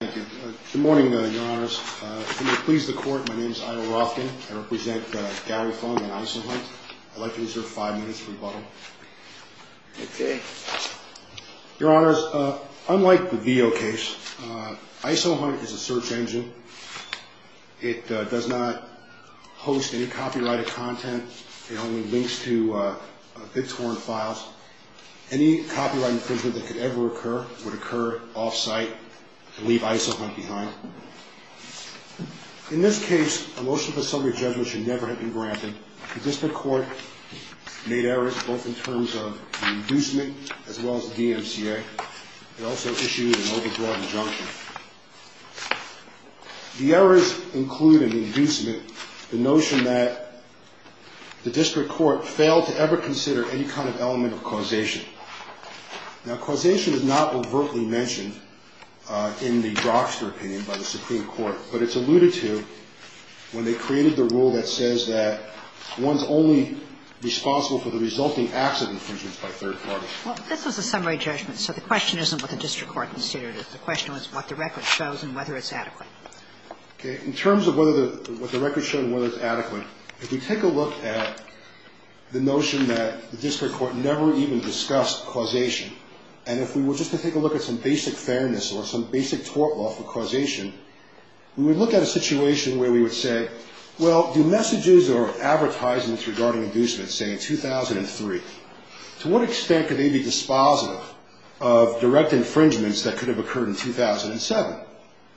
Good morning, your honors. To please the court, my name is Ido Rothkin. I represent Gary Fung and ISOHunt. I'd like to reserve five minutes for rebuttal. Okay. Your honors, unlike the Veo case, ISOHunt is a search engine. It does not host any copyrighted content. It only links to bit-torn files. Any copyright infringement that could ever occur would occur off-site and leave ISOHunt behind. In this case, a motion for subject judgment should never have been granted. The district court made errors both in terms of the inducement as well as the DMCA. It also issued an overbroad injunction. The errors include in the inducement the notion that the district court failed to ever consider any kind of element of causation. Now, causation is not overtly mentioned in the Drogster opinion by the Supreme Court, but it's alluded to when they created the rule that says that one's only responsible for the resulting acts of infringement by third parties. Well, this was a summary judgment, so the question isn't what the district court considered it. The question was what the record shows and whether it's adequate. Okay. In terms of whether the record shows whether it's adequate, if we take a look at the notion that the district court never even discussed causation, and if we were just to take a look at some basic fairness or some basic tort law for causation, we would look at a situation where we would say, well, do messages or advertisements regarding inducements say 2003? To what extent could they be dispositive of direct infringements that could have occurred in 2007?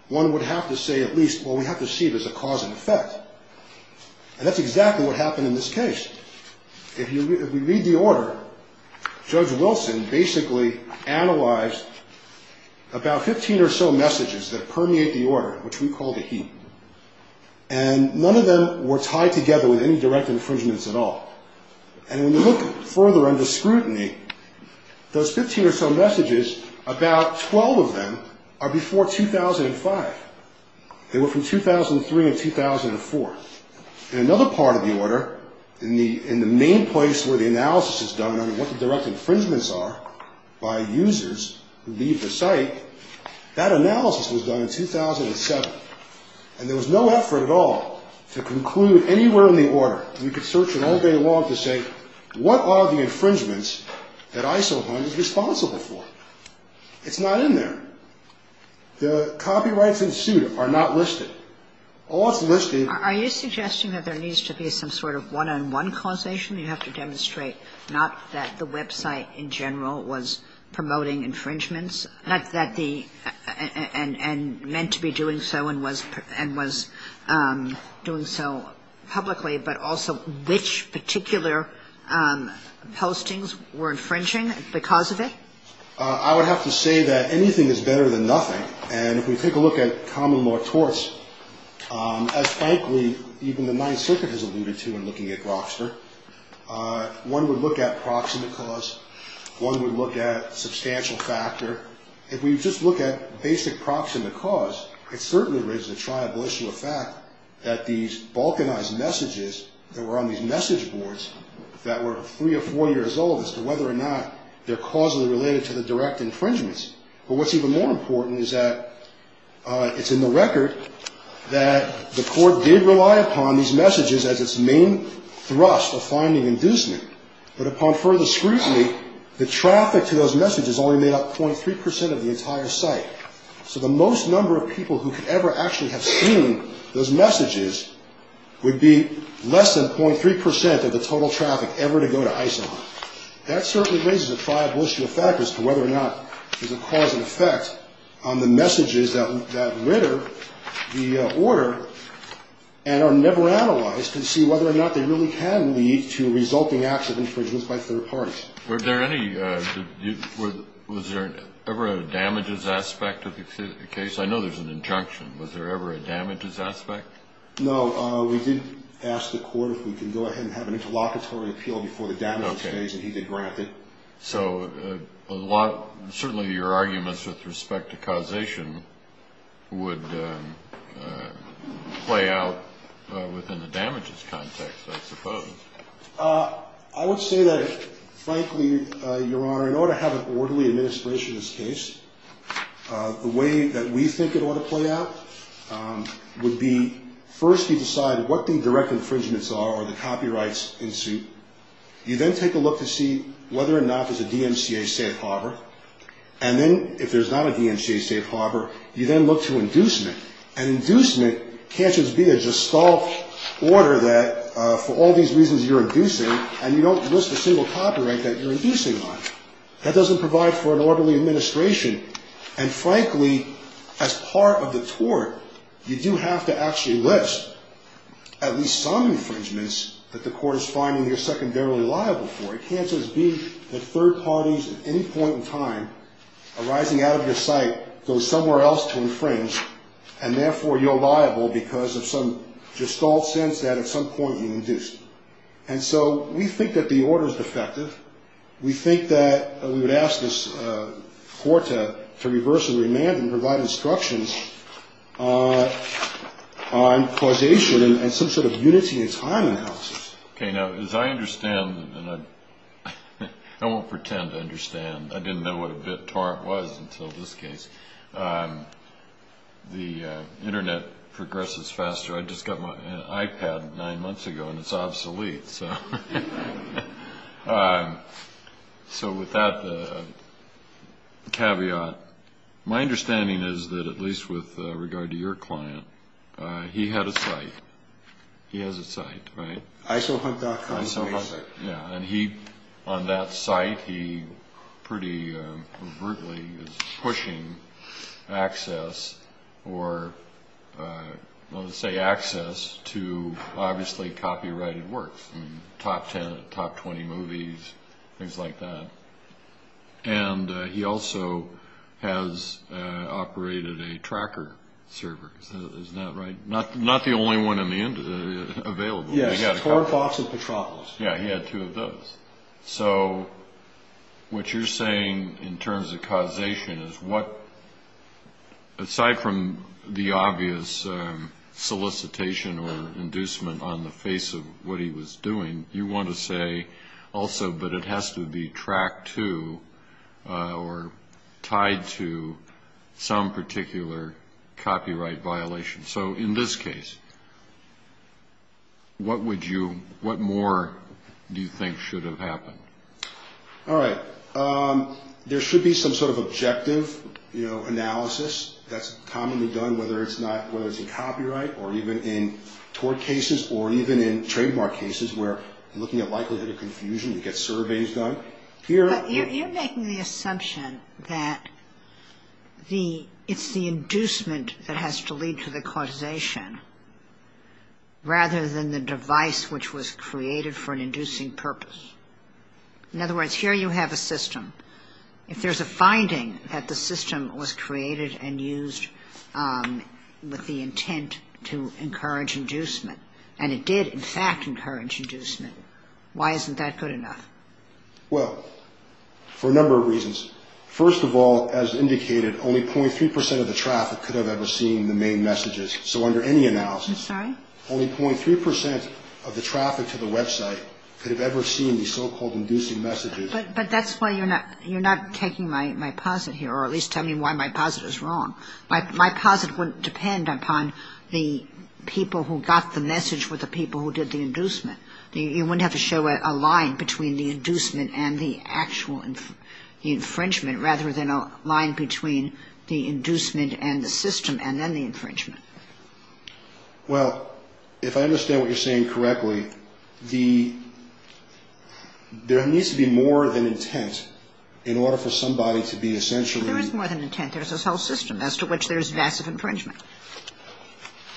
One would have to say at least, well, we have to see it as a cause and effect. And that's exactly what happened in this case. If we read the order, Judge Wilson basically analyzed about 15 or so messages that permeate the order, which we call the heap. And none of them were tied together with any direct infringements at all. And when you look further under scrutiny, those 15 or so messages, about 12 of them are before 2005. They were from 2003 and 2004. In another part of the order, in the main place where the analysis is done on what the direct infringements are by users who leave the site, that analysis was done in 2007. And there was no effort at all to conclude anywhere in the order. You could search it all day long to say, what are the infringements that ISO 100 is responsible for? It's not in there. The copyrights ensued are not listed. All that's listed... Are you suggesting that there needs to be some sort of one-on-one causation? You have to demonstrate not that the website in general was promoting infringements and meant to be doing so and was doing so publicly, but also which particular postings were infringing because of it? I would have to say that anything is better than nothing. And if we take a look at common law torts, as, frankly, even the Ninth Circuit has alluded to in looking at Grokster, one would look at proximate cause, one would look at substantial factor. If we just look at basic proximate cause, it certainly raises a triable issue of fact that these balkanized messages that were on these message boards that were three or four years old as to whether or not they're causally related to the direct infringements. But what's even more important is that it's in the record that the court did rely upon these messages as its main thrust of finding inducement. But upon further scrutiny, the traffic to those messages only made up 0.3 percent of the entire site. So the most number of people who could ever actually have seen those messages would be less than 0.3 percent of the total traffic ever to go to ISO 100. That certainly raises a triable issue of fact as to whether or not there's a cause and effect on the messages that litter the order and are never analyzed to see whether or not they really can lead to resulting acts of infringement by third parties. Were there any ñ was there ever a damages aspect of the case? I know there's an injunction. Was there ever a damages aspect? No. We did ask the court if we can go ahead and have an interlocutory appeal before the damages phase, and he did grant it. Okay. So a lot ñ certainly your arguments with respect to causation would play out within the damages context, I suppose. I would say that frankly, Your Honor, in order to have an orderly administration of this case, the way that we think it ought to play out would be first you decide what the direct infringements are or the copyrights in suit. You then take a look to see whether or not there's a DMCA safe harbor. And then if there's not a DMCA safe harbor, you then look to inducement. And inducement can't just be a gestalt order that for all these reasons you're inducing, and you don't list a single copyright that you're inducing on. That doesn't provide for an orderly administration. And frankly, as part of the tort, you do have to actually list at least some infringements that the court is finding you're secondarily liable for. It can't just be that third parties at any point in time arising out of your sight go somewhere else to infringe, and therefore you're liable because of some gestalt sense that at some point you induced. And so we think that the order is defective. We think that we would ask this court to reverse the remand and provide instructions on causation and some sort of unity in time analysis. Okay. Now, as I understand, and I won't pretend to understand. I didn't know what a BitTorrent was until this case. The Internet progresses faster. I just got my iPad nine months ago, and it's obsolete. So with that caveat, my understanding is that at least with regard to your client, he had a site. He has a site, right? Isohunt.com. And he, on that site, he pretty brutally is pushing access or, let's say, access to obviously copyrighted works, top ten, top 20 movies, things like that. And he also has operated a tracker server. Isn't that right? Not the only one available. Yeah, he had two of those. So what you're saying in terms of causation is what, aside from the obvious solicitation or inducement on the face of what he was doing, you want to say also that it has to be tracked to or tied to some particular copyright violation. So in this case, what would you, what more do you think should have happened? All right. There should be some sort of objective, you know, analysis that's commonly done, whether it's in copyright or even in tort cases or even in trademark cases where looking at likelihood of confusion, you get surveys done. You're making the assumption that it's the inducement that has to lead to the causation rather than the device which was created for an inducing purpose. In other words, here you have a system. If there's a finding that the system was created and used with the intent to encourage inducement, and it did in fact encourage inducement, why isn't that good enough? Well, for a number of reasons. First of all, as indicated, only .3 percent of the traffic could have ever seen the main messages. So under any analysis, only .3 percent of the traffic to the website could have ever seen the so-called inducing messages. But that's why you're not taking my posit here or at least telling me why my posit is wrong. My posit wouldn't depend upon the people who got the message were the people who did the inducement. So you wouldn't have to show a line between the inducement and the actual infringement, rather than a line between the inducement and the system and then the infringement. Well, if I understand what you're saying correctly, there needs to be more than intent in order for somebody to be essentially. There is more than intent. There's a whole system as to which there's massive infringement.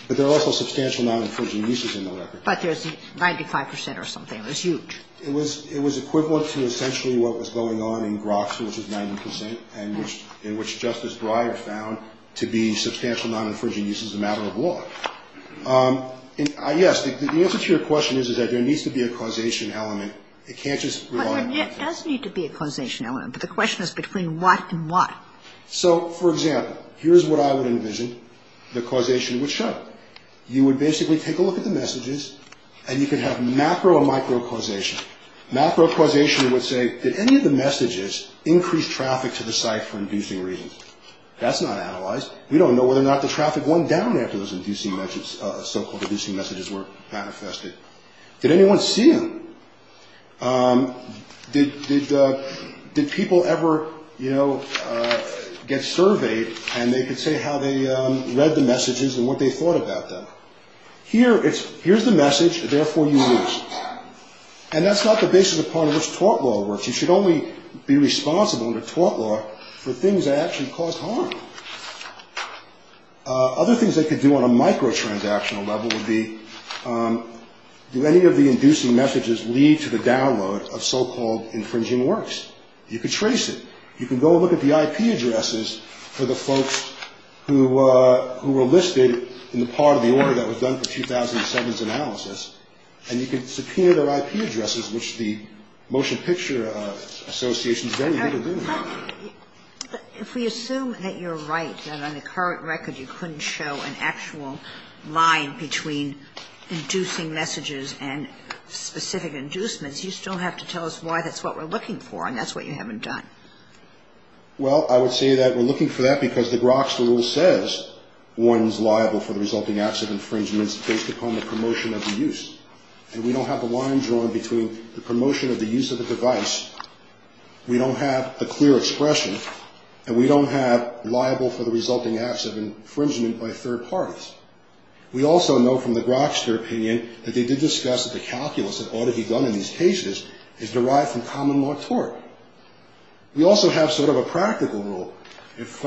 But there are also substantial non-infringing uses in the record. But there's 95 percent or something. It's huge. It was equivalent to essentially what was going on in Groxer, which is 90 percent, and which Justice Breyer found to be substantial non-infringing uses as a matter of law. Yes, the answer to your question is that there needs to be a causation element. It can't just rely on intent. But there does need to be a causation element. But the question is between what and what. So, for example, here's what I would envision the causation would show. You would basically take a look at the messages, and you could have macro and micro causation. Macro causation would say, did any of the messages increase traffic to the site for inducing reasons? That's not analyzed. We don't know whether or not the traffic went down after those so-called inducing messages were manifested. Did anyone see them? Did people ever, you know, get surveyed, and they could say how they read the messages and what they thought about them? Here's the message. Therefore, you lose. And that's not the basis upon which tort law works. You should only be responsible under tort law for things that actually cause harm. Other things they could do on a microtransactional level would be, do any of the inducing messages lead to the download of so-called infringing works? You could trace it. You can go look at the IP addresses for the folks who were listed in the part of the order that was done for 2007's analysis, and you could subpoena their IP addresses, which the Motion Picture Association is very good at doing. But if we assume that you're right, that on the current record you couldn't show an actual line between inducing messages and specific inducements, you still have to tell us why that's what we're looking for, and that's what you haven't done. Well, I would say that we're looking for that because the Grok's Rule says one is liable for the resulting acts of infringement based upon the promotion of the use. And we don't have the line drawn between the promotion of the use of the device. We don't have a clear expression. And we don't have liable for the resulting acts of infringement by third parties. We also know from the Grokster opinion that they did discuss that the calculus that ought to be done in these cases is derived from common law tort. We also have sort of a practical rule. If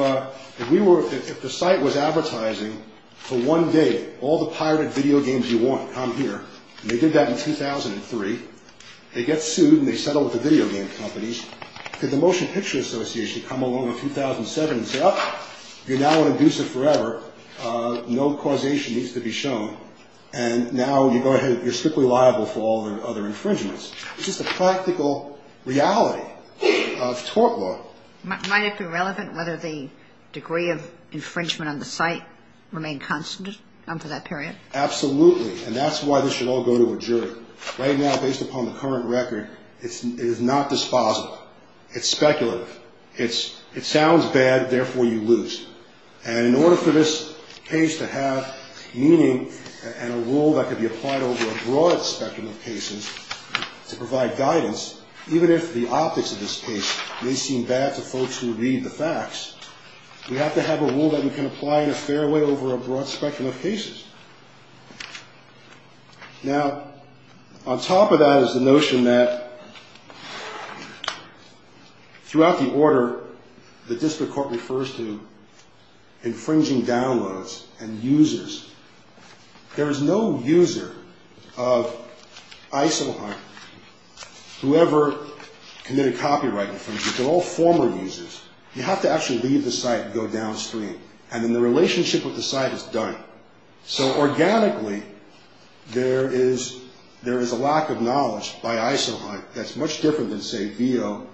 we were, if the site was advertising for one day all the pirated video games you want come here, and they did that in 2003, they get sued and they settle with the video game companies, could the Motion Picture Association come along in 2007 and say, oh, you're now an abuser forever, no causation needs to be shown, and now you go ahead, you're strictly liable for all the other infringements. It's just a practical reality of tort law. Might it be relevant whether the degree of infringement on the site remained constant for that period? And that's why this should all go to a jury. Right now, based upon the current record, it is not disposible. It's speculative. It sounds bad, therefore you lose. And in order for this case to have meaning and a rule that could be applied over a broad spectrum of cases to provide guidance, even if the optics of this case may seem bad to folks who read the facts, we have to have a rule that we can apply in a fair way over a broad spectrum of cases. Now, on top of that is the notion that throughout the order, the district court refers to infringing downloads and users. There is no user of Isohunt, whoever committed copyright infringement. They're all former users. You have to actually leave the site and go downstream, and then the relationship with the site is done. So organically, there is a lack of knowledge by Isohunt that's much different than, say, VEO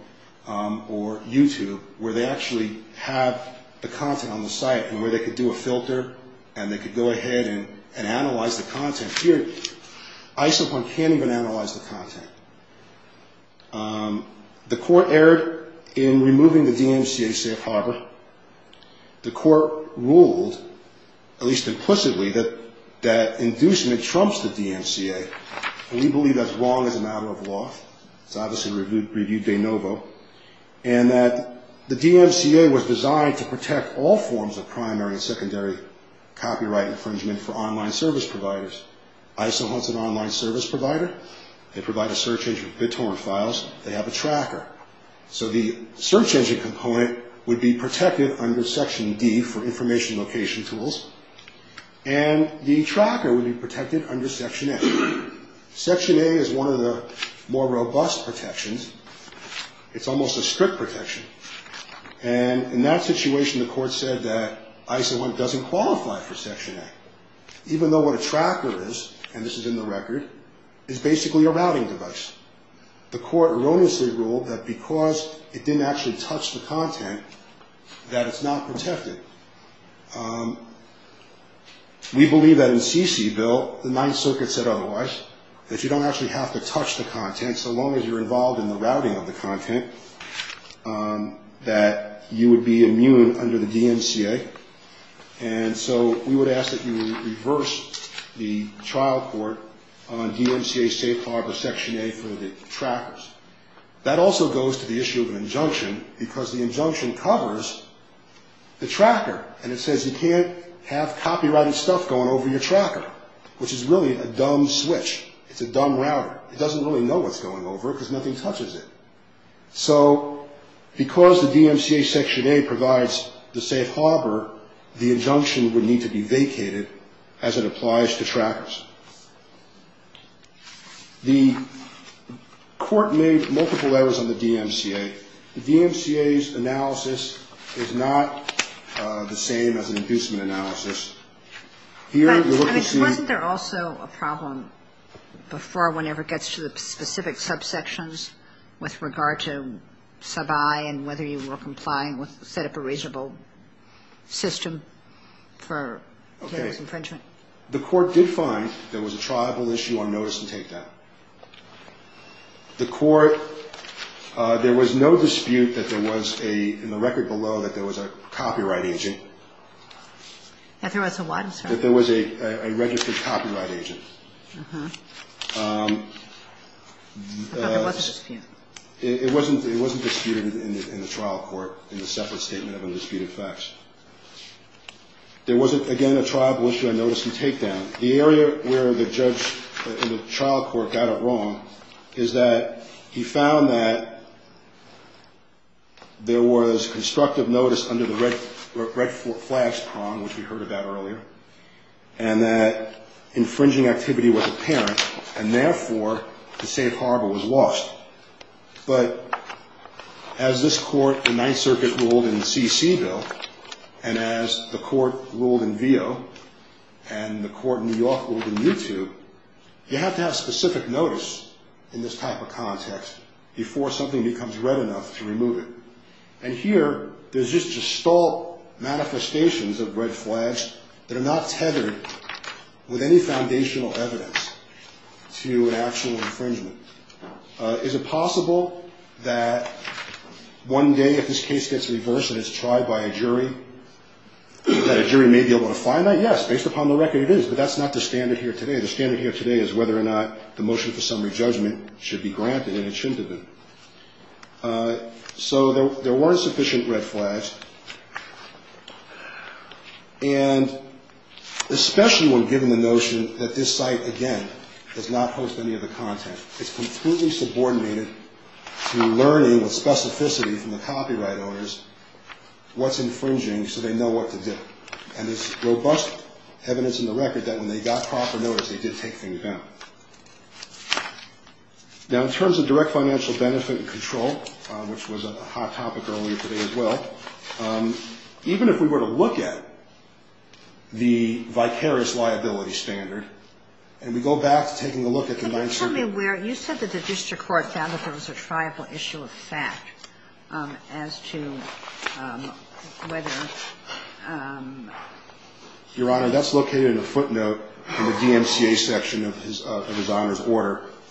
or YouTube, where they actually have the content on the site and where they could do a filter and they could go ahead and analyze the content. Here, Isohunt can't even analyze the content. The court erred in removing the DMCA safe harbor. The court ruled, at least implicitly, that inducement trumps the DMCA, and we believe that's wrong as a matter of law. It's obviously reviewed de novo, and that the DMCA was designed to protect all forms of primary and secondary copyright infringement for online service providers. Isohunt's an online service provider. They provide a search engine for BitTorrent files. They have a tracker. So the search engine component would be protected under Section D for information location tools, and the tracker would be protected under Section A. Section A is one of the more robust protections. It's almost a strict protection. And in that situation, the court said that Isohunt doesn't qualify for Section A, even though what a tracker is, and this is in the record, is basically a routing device. The court erroneously ruled that because it didn't actually touch the content, that it's not protected. We believe that in CC, Bill, the Ninth Circuit said otherwise, that you don't actually have to touch the content, so long as you're involved in the routing of the content, that you would be immune under the DMCA, and so we would ask that you reverse the trial court on DMCA Safe Harbor Section A for the trackers. That also goes to the issue of an injunction, because the injunction covers the tracker, and it says you can't have copyrighted stuff going over your tracker, which is really a dumb switch. It's a dumb router. It doesn't really know what's going over it, because nothing touches it. So because the DMCA Section A provides the safe harbor, the injunction would need to be vacated as it applies to trackers. The court made multiple errors on the DMCA. The DMCA's analysis is not the same as an inducement analysis. Here, you'll look and see. Wasn't there also a problem before one ever gets to the specific subsections with regard to sub I and whether you were complying with set up a reasonable system for infringement? Okay. The court did find there was a tribal issue on notice and takedown. The court, there was no dispute that there was a, in the record below, that there was a copyright agent. That there was a what, I'm sorry? That there was a registered copyright agent. But there was a dispute. It wasn't disputed in the trial court in the separate statement of undisputed facts. There wasn't, again, a tribal issue on notice and takedown. The area where the judge in the trial court got it wrong is that he found that there was constructive notice under the red flags prong, which we heard about earlier, and that infringing activity was apparent. And therefore, the safe harbor was lost. But as this court in Ninth Circuit ruled in CC Bill, and as the court ruled in Veo, and the court in New York ruled in U2, you have to have specific notice in this type of context before something becomes red enough to remove it. And here, there's just gestalt manifestations of red flags that are not tethered with any foundational evidence to an actual infringement. Is it possible that one day, if this case gets reversed and it's tried by a jury, that a jury may be able to find that? Yes, based upon the record, it is. But that's not the standard here today. The standard here today is whether or not the motion for summary judgment should be granted in a chintabu. So there weren't sufficient red flags, and especially when given the notion that this site, again, does not host any of the content. It's completely subordinated to learning with specificity from the copyright owners what's infringing so they know what to do. And there's robust evidence in the record that when they got proper notice, they did take things down. Now, in terms of direct financial benefit and control, which was a hot topic earlier today as well, even if we were to look at the vicarious liability standard, and we go back to taking a look at the Ninth Circuit. But tell me where you said that the district court found that there was a triable issue of fact as to whether...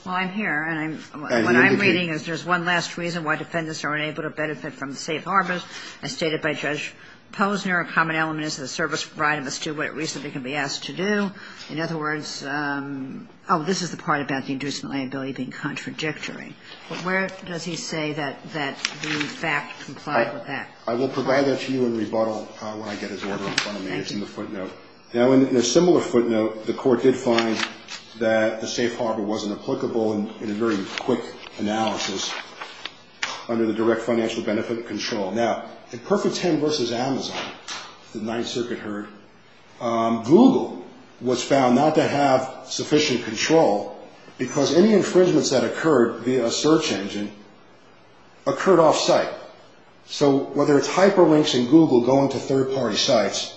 Well, I'm here, and what I'm reading is there's one last reason why defendants are unable to benefit from the safe harbors as stated by Judge Posner. A common element is the service right of us to do what it reasonably can be asked to do. In other words... Oh, this is the part about the inducement liability being contradictory. But where does he say that the fact complied with that? I will provide that to you in rebuttal when I get his order in front of me. Thank you. It's in the footnote. Now, in a similar footnote, the court did find that the safe harbor wasn't applicable in a very quick analysis under the direct financial benefit and control. Now, in Perfect Ten versus Amazon, the Ninth Circuit heard, Google was found not to have sufficient control because any infringements that occurred via a search engine occurred off-site. So whether it's hyperlinks in Google going to third-party sites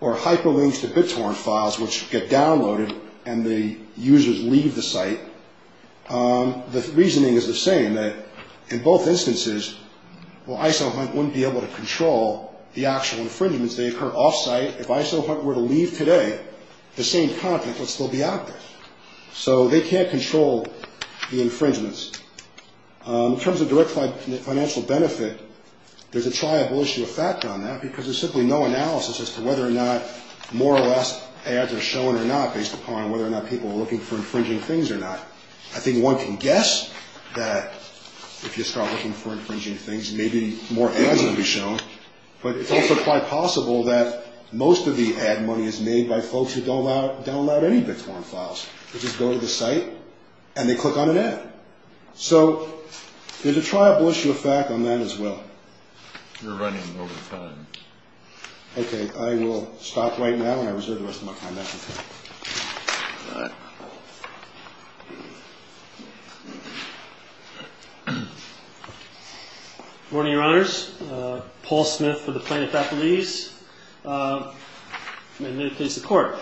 or hyperlinks to BitTorrent files which get downloaded and the users leave the site, the reasoning is the same, that in both instances, well, IsoHunt wouldn't be able to control the actual infringements. They occur off-site. If IsoHunt were to leave today, the same content would still be out there. So they can't control the infringements. In terms of direct financial benefit, there's a triable issue of fact on that because there's simply no analysis as to whether or not more or less ads are shown or not based upon whether or not people are looking for infringing things or not. I think one can guess that if you start looking for infringing things, maybe more ads are going to be shown, but it's also quite possible that most of the ad money is made by folks who don't download any BitTorrent files. They just go to the site and they click on an ad. So there's a triable issue of fact on that as well. You're running over time. Okay. I will stop right now and I reserve the rest of my time. That's okay. All right. Good morning, Your Honors. Paul Smith for the Plano faculties. In the case of court,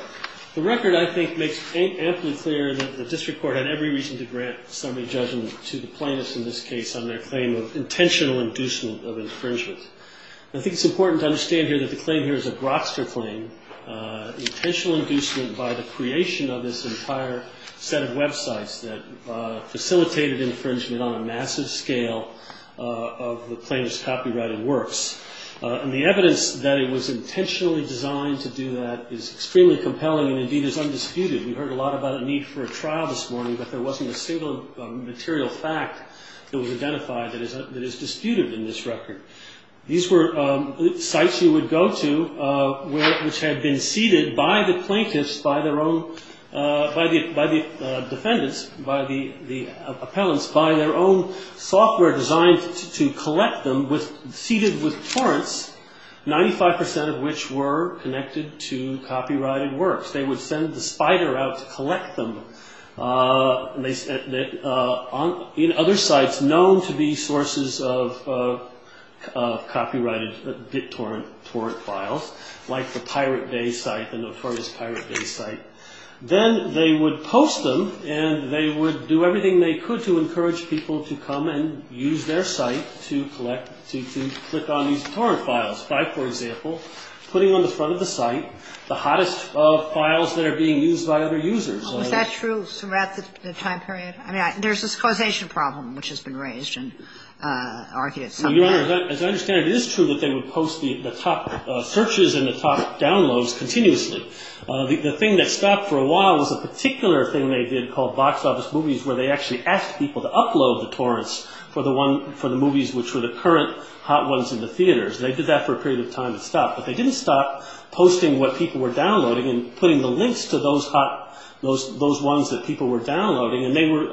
the record, I think, makes amply clear that the district court had every reason to grant summary judgment to the plaintiffs in this case on their claim of intentional inducement of infringement. I think it's important to understand here that the claim here is a Brockster claim, intentional inducement by the creation of this entire set of websites that facilitated infringement on a massive scale of the plaintiffs' copyrighted works. And the evidence that it was intentionally designed to do that is extremely compelling and, indeed, is undisputed. We heard a lot about a need for a trial this morning, but there wasn't a single material fact that was identified that is disputed in this record. These were sites you would go to which had been seeded by the plaintiffs, by the defendants, by the appellants, by their own software designed to collect them, seeded with torrents, 95 percent of which were connected to copyrighted works. They would send the spider out to collect them in other sites known to be sources of copyrighted bit torrent files, like the Pirate Bay site and the Furnace Pirate Bay site. Then they would post them and they would do everything they could to encourage people to come and use their site to collect, to click on these torrent files, by, for example, putting on the front of the site the hottest of files that are being used by other users. Was that true throughout the time period? I mean, there's this causation problem which has been raised and argued somewhere. Your Honor, as I understand it, it is true that they would post the top searches and the top downloads continuously. The thing that stopped for a while was a particular thing they did called box office movies where they actually asked people to upload the torrents for the movies which were the current hot ones in the theaters. They did that for a period of time. It stopped. But they didn't stop posting what people were downloading and putting the links to those hot, those ones that people were downloading. And they were,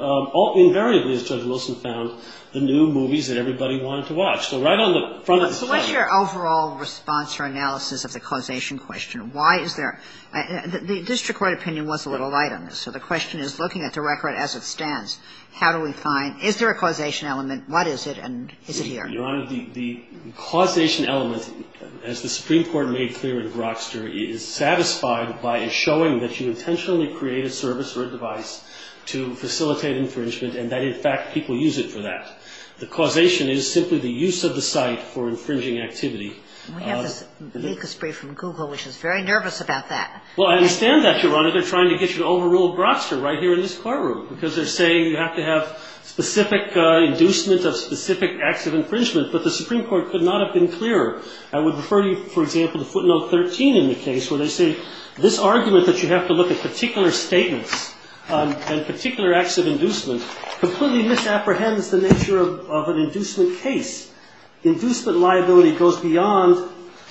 invariably, as Judge Wilson found, the new movies that everybody wanted to watch. So right on the front of the site. What is your overall response or analysis of the causation question? Why is there? The district court opinion was a little light on this. So the question is, looking at the record as it stands, how do we find, is there a causation element, what is it, and is it here? Your Honor, the causation element, as the Supreme Court made clear in Grokster, is satisfied by a showing that you intentionally create a service or a device to facilitate infringement and that, in fact, people use it for that. The causation is simply the use of the site for infringing activity. We have this make a spree from Google, which is very nervous about that. Well, I understand that, Your Honor. They're trying to get you to overrule Grokster right here in this courtroom because they're saying you have to have specific inducement of specific acts of infringement. But the Supreme Court could not have been clearer. I would refer you, for example, to footnote 13 in the case where they say, this argument that you have to look at particular statements and particular acts of inducement completely misapprehends the nature of an inducement case. Inducement liability goes beyond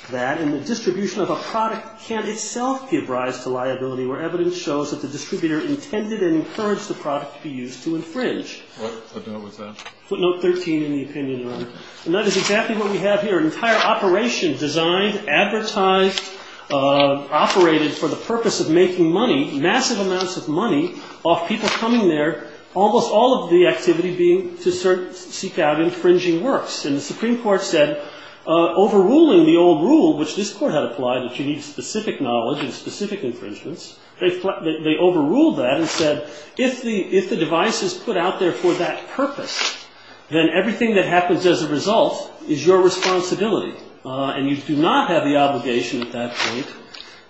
that, and the distribution of a product can itself give rise to liability, where evidence shows that the distributor intended and encouraged the product to be used to infringe. What footnote was that? Footnote 13 in the opinion, Your Honor. And that is exactly what we have here, an entire operation designed, advertised, operated for the purpose of making money, massive amounts of money off people coming there, almost all of the activity being to seek out infringing works. And the Supreme Court said, overruling the old rule, which this Court had applied that you need specific knowledge and specific infringements, they overruled that and said, if the device is put out there for that purpose, then everything that happens as a result is your responsibility. And you do not have the obligation at that point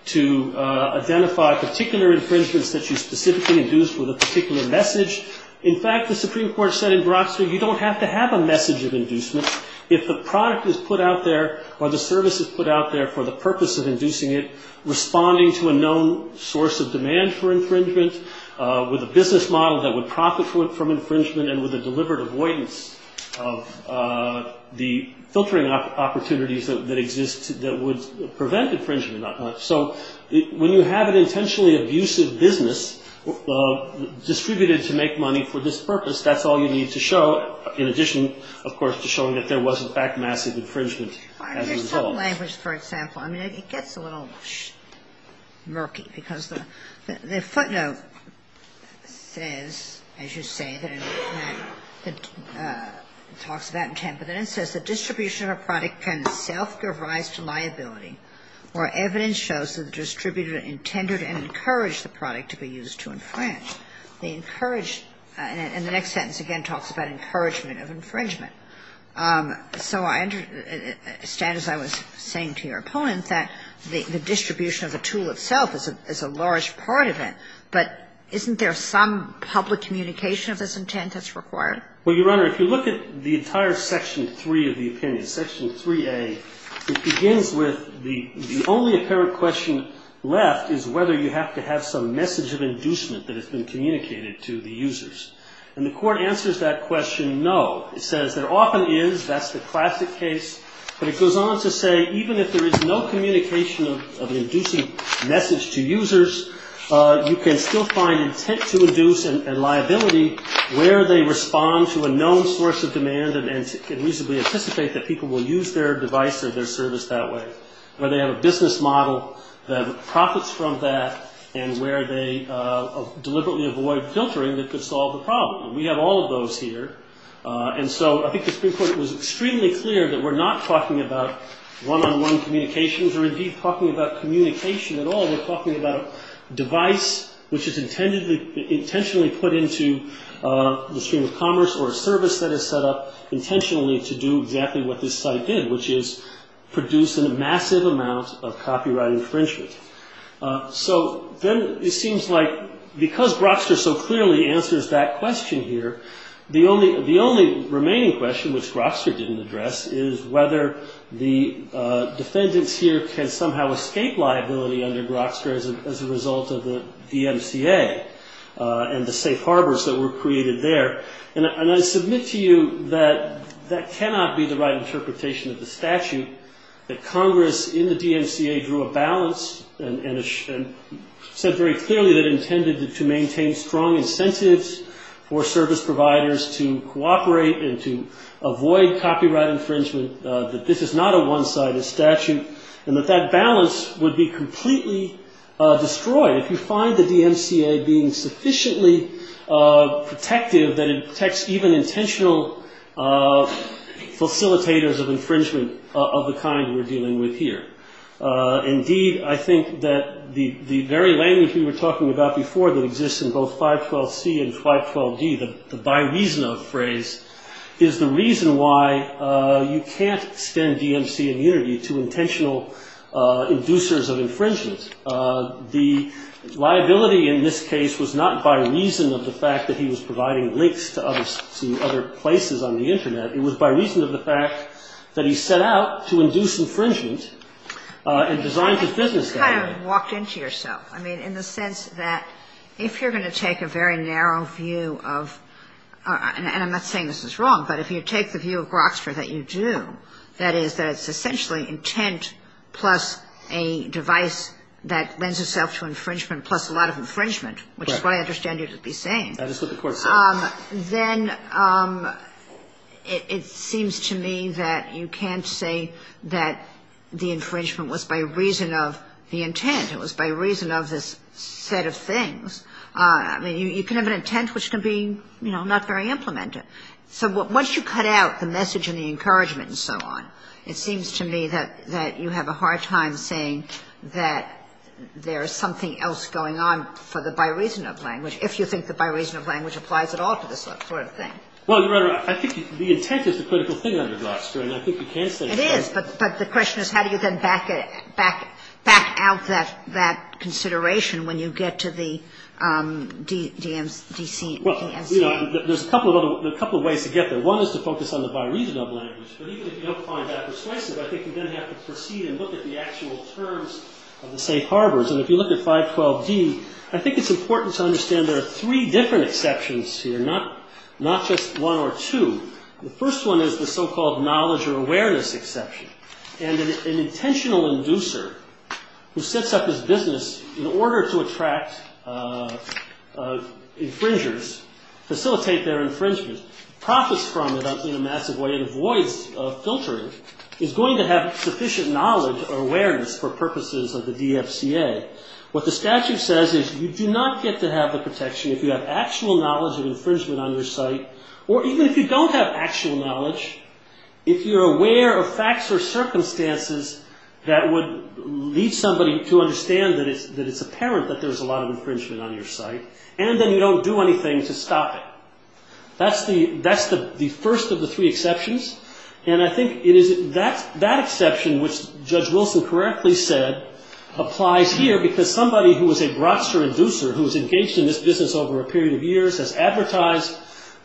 to identify particular infringements that you specifically induce with a particular message. In fact, the Supreme Court said in Brockster, you don't have to have a message of inducement. If the product is put out there or the service is put out there for the purpose of inducing it, responding to a known source of demand for infringement, with a business model that would profit from infringement and with a deliberate avoidance of the filtering opportunities that exist that would prevent infringement. So when you have an intentionally abusive business distributed to make money for this purpose, that's all you need to show, in addition, of course, to showing that there was, in fact, massive infringement as a result. There's some language, for example. I mean, it gets a little murky because the footnote says, as you say, that it talks about intent, but then it says, where evidence shows that the distributor intended and encouraged the product to be used to infringe. They encouraged, and the next sentence again talks about encouragement of infringement. So I understand, as I was saying to your opponent, that the distribution of the tool itself is a large part of it, but isn't there some public communication of this intent that's required? Well, Your Honor, if you look at the entire Section 3 of the opinion, Section 3A, it begins with the only apparent question left is whether you have to have some message of inducement that has been communicated to the users. And the Court answers that question, no. It says there often is. That's the classic case. But it goes on to say even if there is no communication of an inducing message to users, you can still find intent to induce and liability where they respond to a known source of demand and reasonably anticipate that people will use their device or their service that way, where they have a business model that profits from that and where they deliberately avoid filtering that could solve the problem. We have all of those here. And so I think the Supreme Court was extremely clear that we're not talking about one-on-one communications or indeed talking about communication at all. We're talking about a device which is intentionally put into the stream of commerce or a service that is set up intentionally to do exactly what this site did, which is produce a massive amount of copyright infringement. So then it seems like because Grokster so clearly answers that question here, the only remaining question, which Grokster didn't address, is whether the defendants here can somehow escape liability under Grokster as a result of the DMCA and the safe harbors that were created there. And I submit to you that that cannot be the right interpretation of the statute, that Congress in the DMCA drew a balance and said very clearly that it intended to maintain strong incentives for service providers to cooperate and to avoid copyright infringement, that this is not a one-sided statute, and that that balance would be completely destroyed if you find the DMCA being sufficiently protective that it protects even intentional facilitators of infringement of the kind we're dealing with here. Indeed, I think that the very language we were talking about before that exists in both 512C and 512D, the by reason of phrase, is the reason why you can't extend DMC immunity to intentional inducers of infringement. The liability in this case was not by reason of the fact that he was providing links to other places on the Internet. It was by reason of the fact that he set out to induce infringement and designed his business that way. And you kind of walked into yourself. I mean, in the sense that if you're going to take a very narrow view of – and I'm not saying this is wrong, but if you take the view of Grokster that you do, that is, that it's essentially intent plus a device that lends itself to infringement plus a lot of infringement, which is what I understand you to be saying. That is what the Court said. Then it seems to me that you can't say that the infringement was by reason of the intent. It was by reason of this set of things. I mean, you can have an intent which can be, you know, not very implemented. So once you cut out the message and the encouragement and so on, it seems to me that you have a hard time saying that there is something else going on for the by reason of language, if you think the by reason of language applies at all to this sort of thing. Well, Your Honor, I think the intent is the critical thing under Grokster. And I think you can say that. It is. But the question is how do you then back out that consideration when you get to the DMC? Well, you know, there's a couple of ways to get there. One is to focus on the by reason of language. But even if you don't find that persuasive, I think you then have to proceed and look at the actual terms of the safe harbors. And if you look at 512D, I think it's important to understand there are three different exceptions here, not just one or two. The first one is the so-called knowledge or awareness exception. And an intentional inducer who sets up his business in order to attract infringers, facilitate their infringement, profits from it in a massive way and avoids filtering, is going to have sufficient knowledge or awareness for purposes of the DFCA. What the statute says is you do not get to have the protection if you have actual knowledge of infringement on your site, or even if you don't have actual knowledge, if you're aware of facts or circumstances that would lead somebody to understand that it's apparent that there's a lot of infringement on your site, and then you don't do anything to stop it. That's the first of the three exceptions. And I think that exception, which Judge Wilson correctly said, applies here because somebody who is a broadster inducer, who's engaged in this business over a period of years, has advertised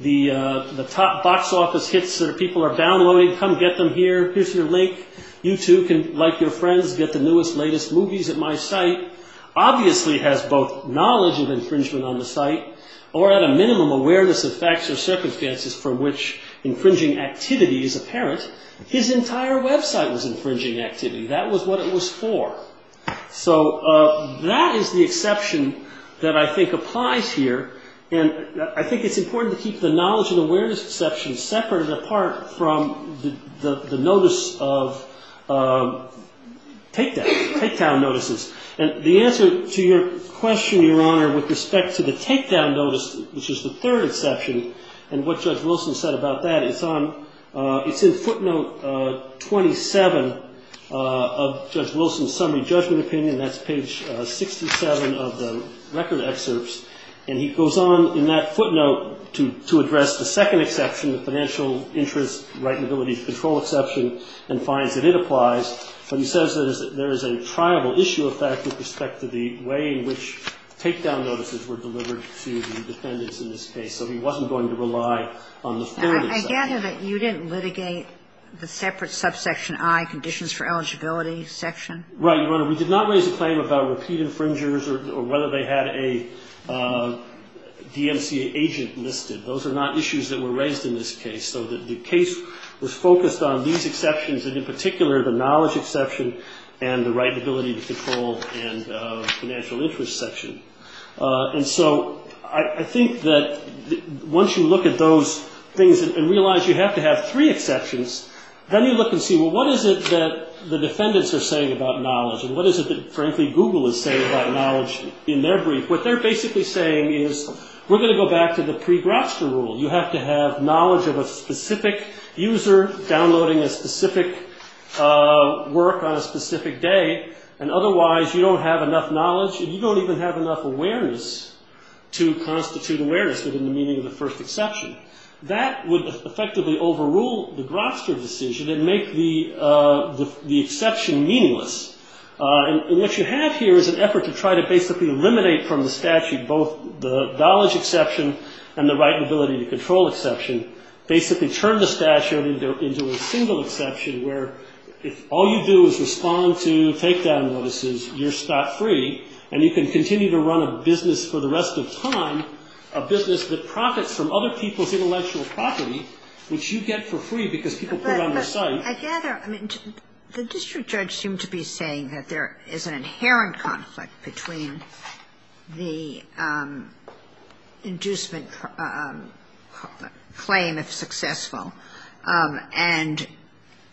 the top box office hits that people are downloading, come get them here, here's your link, you too can, like your friends, get the newest, latest movies at my site, obviously has both knowledge of infringement on the site, or at a minimum awareness of facts or circumstances for which infringing activity is apparent. His entire website was infringing activity. That was what it was for. So that is the exception that I think applies here. And I think it's important to keep the knowledge and awareness exception separated apart from the notice of takedown notices. And the answer to your question, Your Honor, with respect to the takedown notice, which is the third exception, and what Judge Wilson said about that, it's in footnote 27 of Judge Wilson's summary judgment opinion. That's page 67 of the record excerpts. And he goes on in that footnote to address the second exception, the financial interest, right and ability to control exception, and finds that it applies. But he says that there is a triable issue of fact with respect to the way in which takedown notices were delivered to the defendants in this case. So he wasn't going to rely on the third exception. I gather that you didn't litigate the separate subsection I, conditions for eligibility section? Right, Your Honor. We did not raise a claim about repeat infringers or whether they had a DMCA agent listed. Those are not issues that were raised in this case. So the case was focused on these exceptions, and in particular, the knowledge exception and the right and ability to control and financial interest section. And so I think that once you look at those things and realize you have to have three exceptions, then you look and see, well, what is it that the defendants are saying about knowledge? And what is it that, frankly, Google is saying about knowledge in their brief? What they're basically saying is, we're going to go back to the pre-Graster rule. You have to have knowledge of a specific user downloading a specific work on a specific day, and otherwise you don't have enough knowledge and you don't even have enough awareness to constitute awareness within the meaning of the first exception. That would effectively overrule the Graster decision and make the exception meaningless. And what you have here is an effort to try to basically eliminate from the statute both the knowledge exception and the right and ability to control exception, basically turn the statute into a single exception where if all you do is respond to takedown notices, you're spot free, and you can continue to run a business for the rest of time, a business that profits from other people's intellectual property, which you get for free because people put it on their site. I gather, I mean, the district judge seemed to be saying that there is an inherent conflict between the inducement claim, if successful, and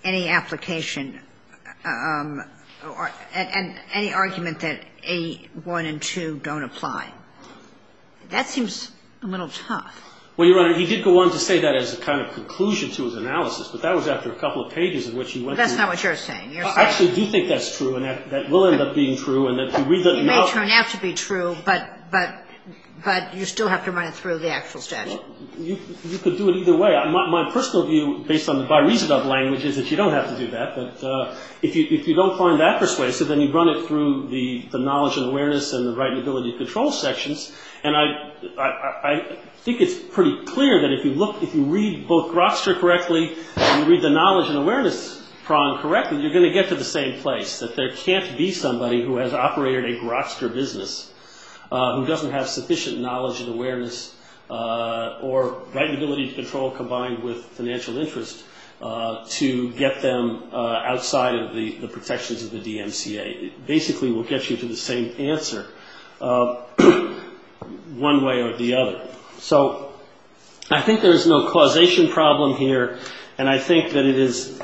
any application, and any argument that A1 and 2 don't apply. That seems a little tough. Well, Your Honor, he did go on to say that as a kind of conclusion to his analysis, but that was after a couple of pages in which he went through. That's not what you're saying. I actually do think that's true, and that will end up being true, and that you read the note. It may turn out to be true, but you still have to run it through the actual statute. You could do it either way. My personal view, based on the by reason of language, is that you don't have to do that. But if you don't find that persuasive, then you run it through the knowledge and awareness and the right and ability to control sections. And I think it's pretty clear that if you read both Groster correctly and you read the knowledge and awareness prong correctly, you're going to get to the same place, that there can't be somebody who has operated a Groster business, who doesn't have sufficient knowledge and awareness or right and ability to control, combined with financial interest, to get them outside of the protections of the DMCA. It basically will get you to the same answer, one way or the other. So I think there is no causation problem here, and I think that it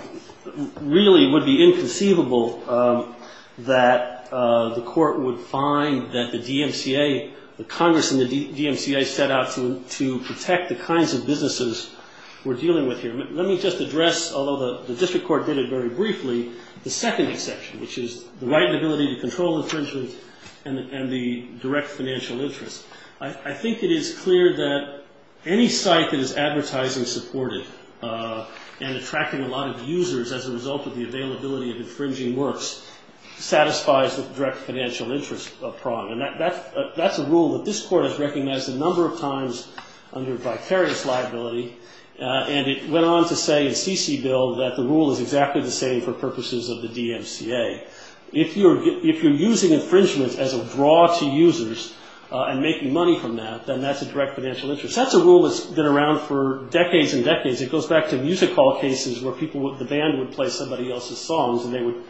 really would be inconceivable that the court would find that the DMCA, the Congress and the DMCA set out to protect the kinds of businesses we're dealing with here. Let me just address, although the district court did it very briefly, the second exception, which is the right and ability to control infringement and the direct financial interest. I think it is clear that any site that is advertising supportive and attracting a lot of users as a result of the availability of infringing works satisfies the direct financial interest prong. And that's a rule that this court has recognized a number of times under vicarious liability. And it went on to say in CC Bill that the rule is exactly the same for purposes of the DMCA. If you're using infringement as a draw to users and making money from that, then that's a direct financial interest. That's a rule that's been around for decades and decades. It goes back to music hall cases where the band would play somebody else's songs and they would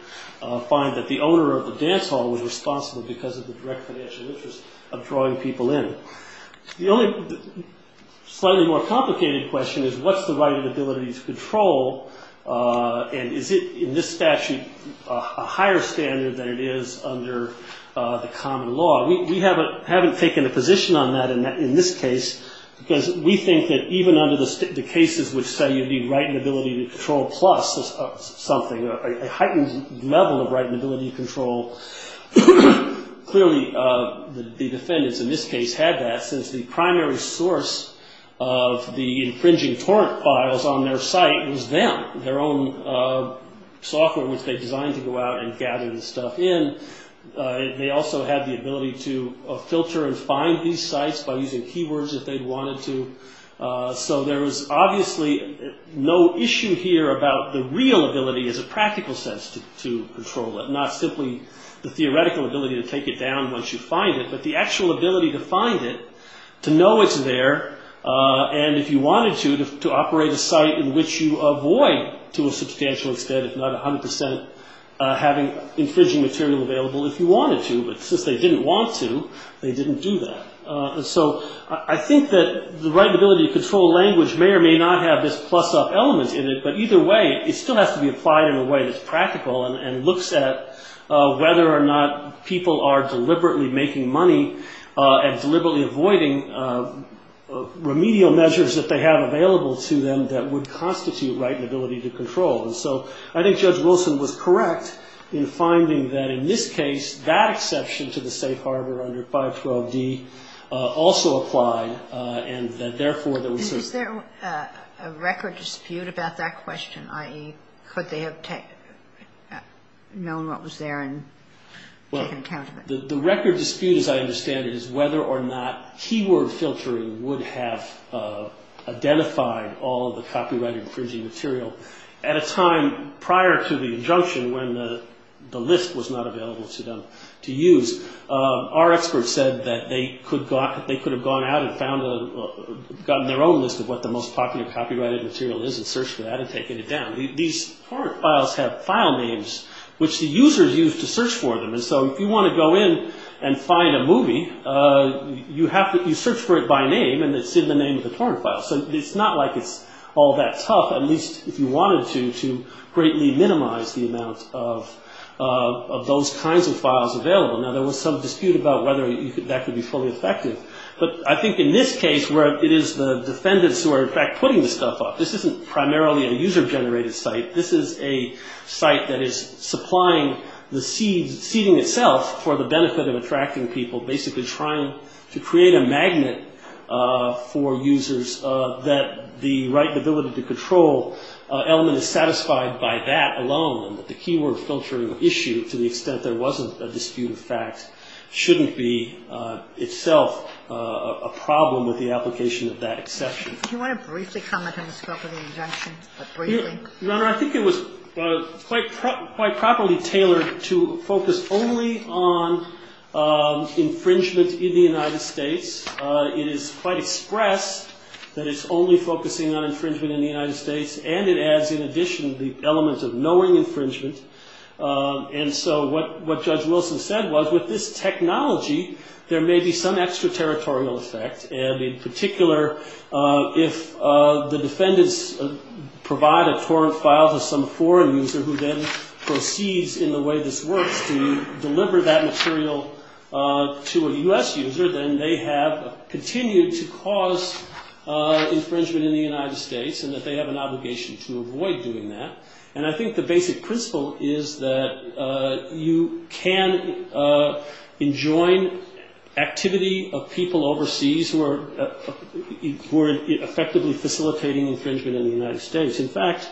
find that the owner of the dance hall was responsible because of the direct financial interest of drawing people in. The only slightly more complicated question is what's the right and ability to control and is it in this statute a higher standard than it is under the common law? We haven't taken a position on that in this case because we think that even under the cases which say you need right and ability to control plus something, a heightened level of right and ability to control, clearly the defendants in this case had that since the primary source of the infringing torrent files on their site was them, their own software which they designed to go out and gather the stuff in. They also had the ability to filter and find these sites by using keywords if they wanted to. So there was obviously no issue here about the real ability as a practical sense to control it, not simply the theoretical ability to take it down once you find it, but the actual ability to find it, to know it's there, and if you wanted to, to operate a site in which you avoid to a substantial extent if not 100% infringing material available if you wanted to. But since they didn't want to, they didn't do that. So I think that the right and ability to control language may or may not have this plus up element in it, but either way it still has to be applied in a way that's practical and looks at whether or not people are deliberately making money and deliberately avoiding remedial measures that they have available to them that would constitute right and ability to control. And so I think Judge Wilson was correct in finding that in this case, that exception to the safe harbor under 512D also applied, and that therefore there was sort of ‑‑ A record dispute about that question, i.e., could they have known what was there and taken account of it? The record dispute, as I understand it, is whether or not keyword filtering would have identified all of the copyright infringing material at a time prior to the injunction when the list was not available to them to use. Our experts said that they could have gone out and gotten their own list of what the most popular copyrighted material is and searched for that and taken it down. These torrent files have file names which the users use to search for them. And so if you want to go in and find a movie, you search for it by name, and it's in the name of the torrent file. So it's not like it's all that tough, at least if you wanted to, to greatly minimize the amount of those kinds of files available. Now, there was some dispute about whether that could be fully effective, but I think in this case where it is the defendants who are, in fact, putting the stuff up, this isn't primarily a user‑generated site. This is a site that is supplying the seeding itself for the benefit of attracting people, basically trying to create a magnet for users that the right ability to control element is satisfied by that alone, and that the keyword filtering issue, to the extent there wasn't a dispute of fact, shouldn't be itself a problem with the application of that exception. Do you want to briefly comment on the scope of the injunction? Your Honor, I think it was quite properly tailored to focus only on infringement in the United States. It is quite expressed that it's only focusing on infringement in the United States, and it adds in addition the elements of knowing infringement. And so what Judge Wilson said was with this technology, there may be some extraterritorial effect, and in particular, if the defendants provide a torrent file to some foreign user who then proceeds in the way this works to deliver that material to a U.S. user, then they have continued to cause infringement in the United States and that they have an obligation to avoid doing that. And I think the basic principle is that you can enjoin activity of people overseas who are effectively facilitating infringement in the United States. In fact,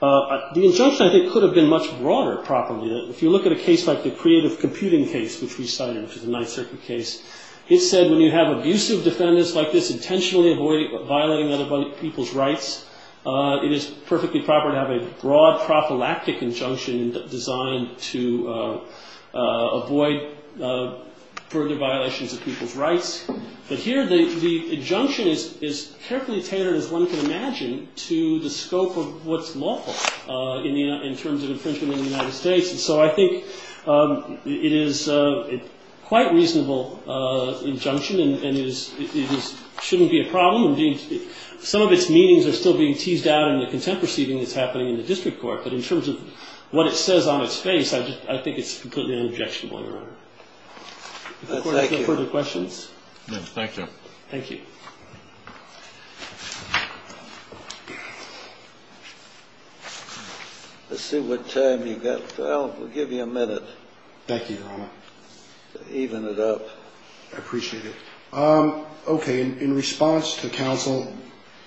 the injunction, I think, could have been much broader properly. If you look at a case like the creative computing case, which we cited, which is a Ninth Circuit case, it said when you have abusive defendants like this intentionally violating other people's rights, it is perfectly proper to have a broad prophylactic injunction designed to avoid further violations of people's rights. But here the injunction is carefully tailored, as one can imagine, to the scope of what's lawful in terms of infringement in the United States. And so I think it is a quite reasonable injunction and it shouldn't be a problem. Some of its meanings are still being teased out in the contemporary seating that's happening in the district court. But in terms of what it says on its face, I think it's completely an objectionable error. Any further questions? Thank you. Thank you. Let's see what time you've got. Well, we'll give you a minute. Thank you, Your Honor. To even it up. I appreciate it. Okay. In response to counsel,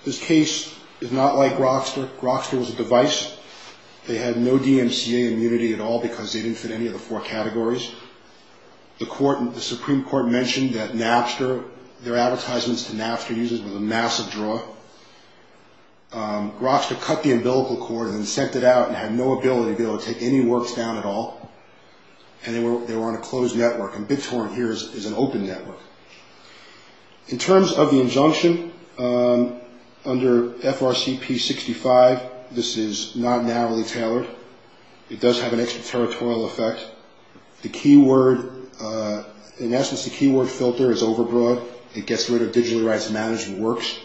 this case is not like Grokster. Grokster was a device. They had no DMCA immunity at all because they didn't fit any of the four categories. The Supreme Court mentioned that Napster, their advertisements to Napster users were a massive draw. Grokster cut the umbilical cord and sent it out and had no ability to be able to take any works down at all. And they were on a closed network. And BitTorrent here is an open network. In terms of the injunction, under FRCP 65, this is not narrowly tailored. It does have an extraterritorial effect. The keyword, in essence, the keyword filter is overbroad. It gets rid of digital rights management works.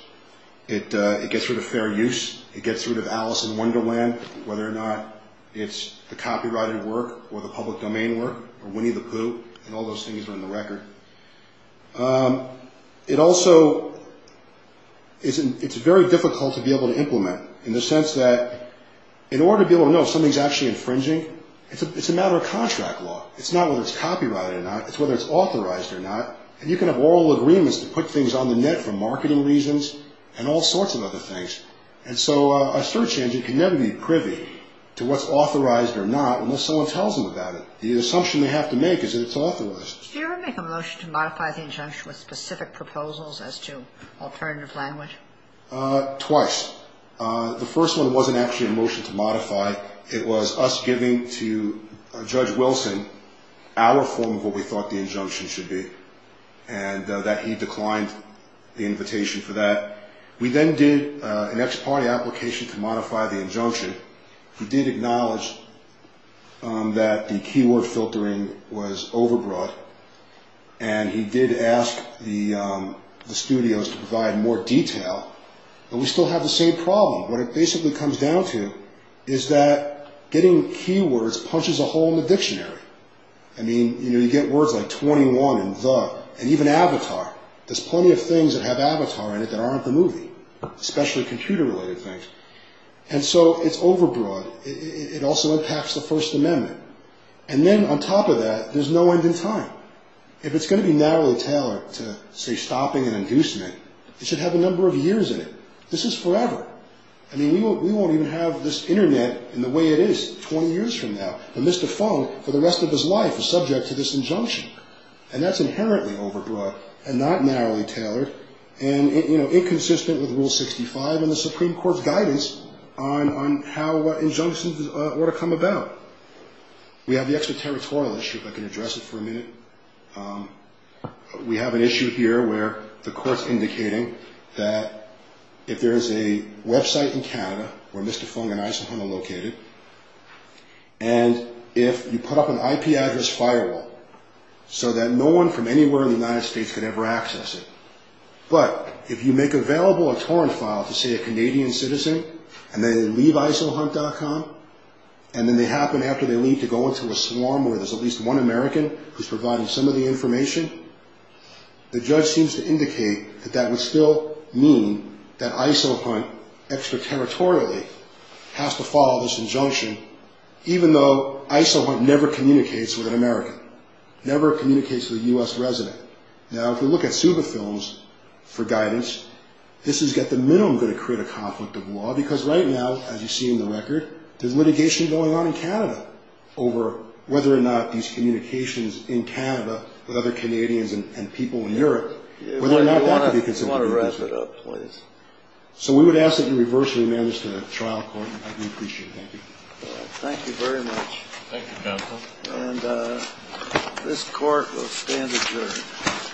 It gets rid of fair use. It gets rid of Alice in Wonderland, whether or not it's the copyrighted work or the public domain work, or Winnie the Pooh, and all those things are in the record. It also, it's very difficult to be able to implement in the sense that in order to be able to know if something's actually infringing, it's a matter of contract law. It's not whether it's copyrighted or not. It's whether it's authorized or not. And you can have oral agreements that put things on the net for marketing reasons and all sorts of other things. And so a search engine can never be privy to what's authorized or not unless someone tells them about it. The assumption they have to make is that it's authorized. Did you ever make a motion to modify the injunction with specific proposals as to alternative language? Twice. The first one wasn't actually a motion to modify. It was us giving to Judge Wilson our form of what we thought the injunction should be, and that he declined the invitation for that. We then did an ex parte application to modify the injunction. He did acknowledge that the keyword filtering was overbroad, and he did ask the studios to provide more detail. But we still have the same problem. What it basically comes down to is that getting keywords punches a hole in the dictionary. I mean, you get words like 21 and The, and even Avatar. There's plenty of things that have Avatar in it that aren't the movie, especially computer-related things. And so it's overbroad. It also impacts the First Amendment. And then on top of that, there's no end in time. If it's going to be narrowly tailored to, say, stopping and inducement, it should have a number of years in it. This is forever. I mean, we won't even have this Internet in the way it is 20 years from now. And Mr. Fung, for the rest of his life, is subject to this injunction. And that's inherently overbroad and not narrowly tailored and inconsistent with Rule 65 and the Supreme Court's guidance on how injunctions ought to come about. We have the extraterritorial issue, if I can address it for a minute. We have an issue here where the court's indicating that if there is a Web site in Canada where Mr. Fung and ISIL Hunt are located, and if you put up an IP address firewall so that no one from anywhere in the United States can ever access it, but if you make available a torrent file to, say, a Canadian citizen, and they leave ISILHunt.com, and then they happen, after they leave, to go into a swarm where there's at least one American who's providing some of the information, the judge seems to indicate that that would still mean that ISIL Hunt, extraterritorially, has to follow this injunction, even though ISIL Hunt never communicates with an American, never communicates with a U.S. resident. Now, if we look at SUBA films, for guidance, this has got the minimum going to create a conflict of law, because right now, as you see in the record, there's litigation going on in Canada over whether or not these communications in Canada with other Canadians and people in Europe, whether or not that could be considered illegal. I want to wrap it up, please. So we would ask that you reverse your amendments to the trial court. We appreciate it. Thank you. Thank you very much. Thank you, counsel. And this court will stand adjourned. Thank you. Court is adjourned.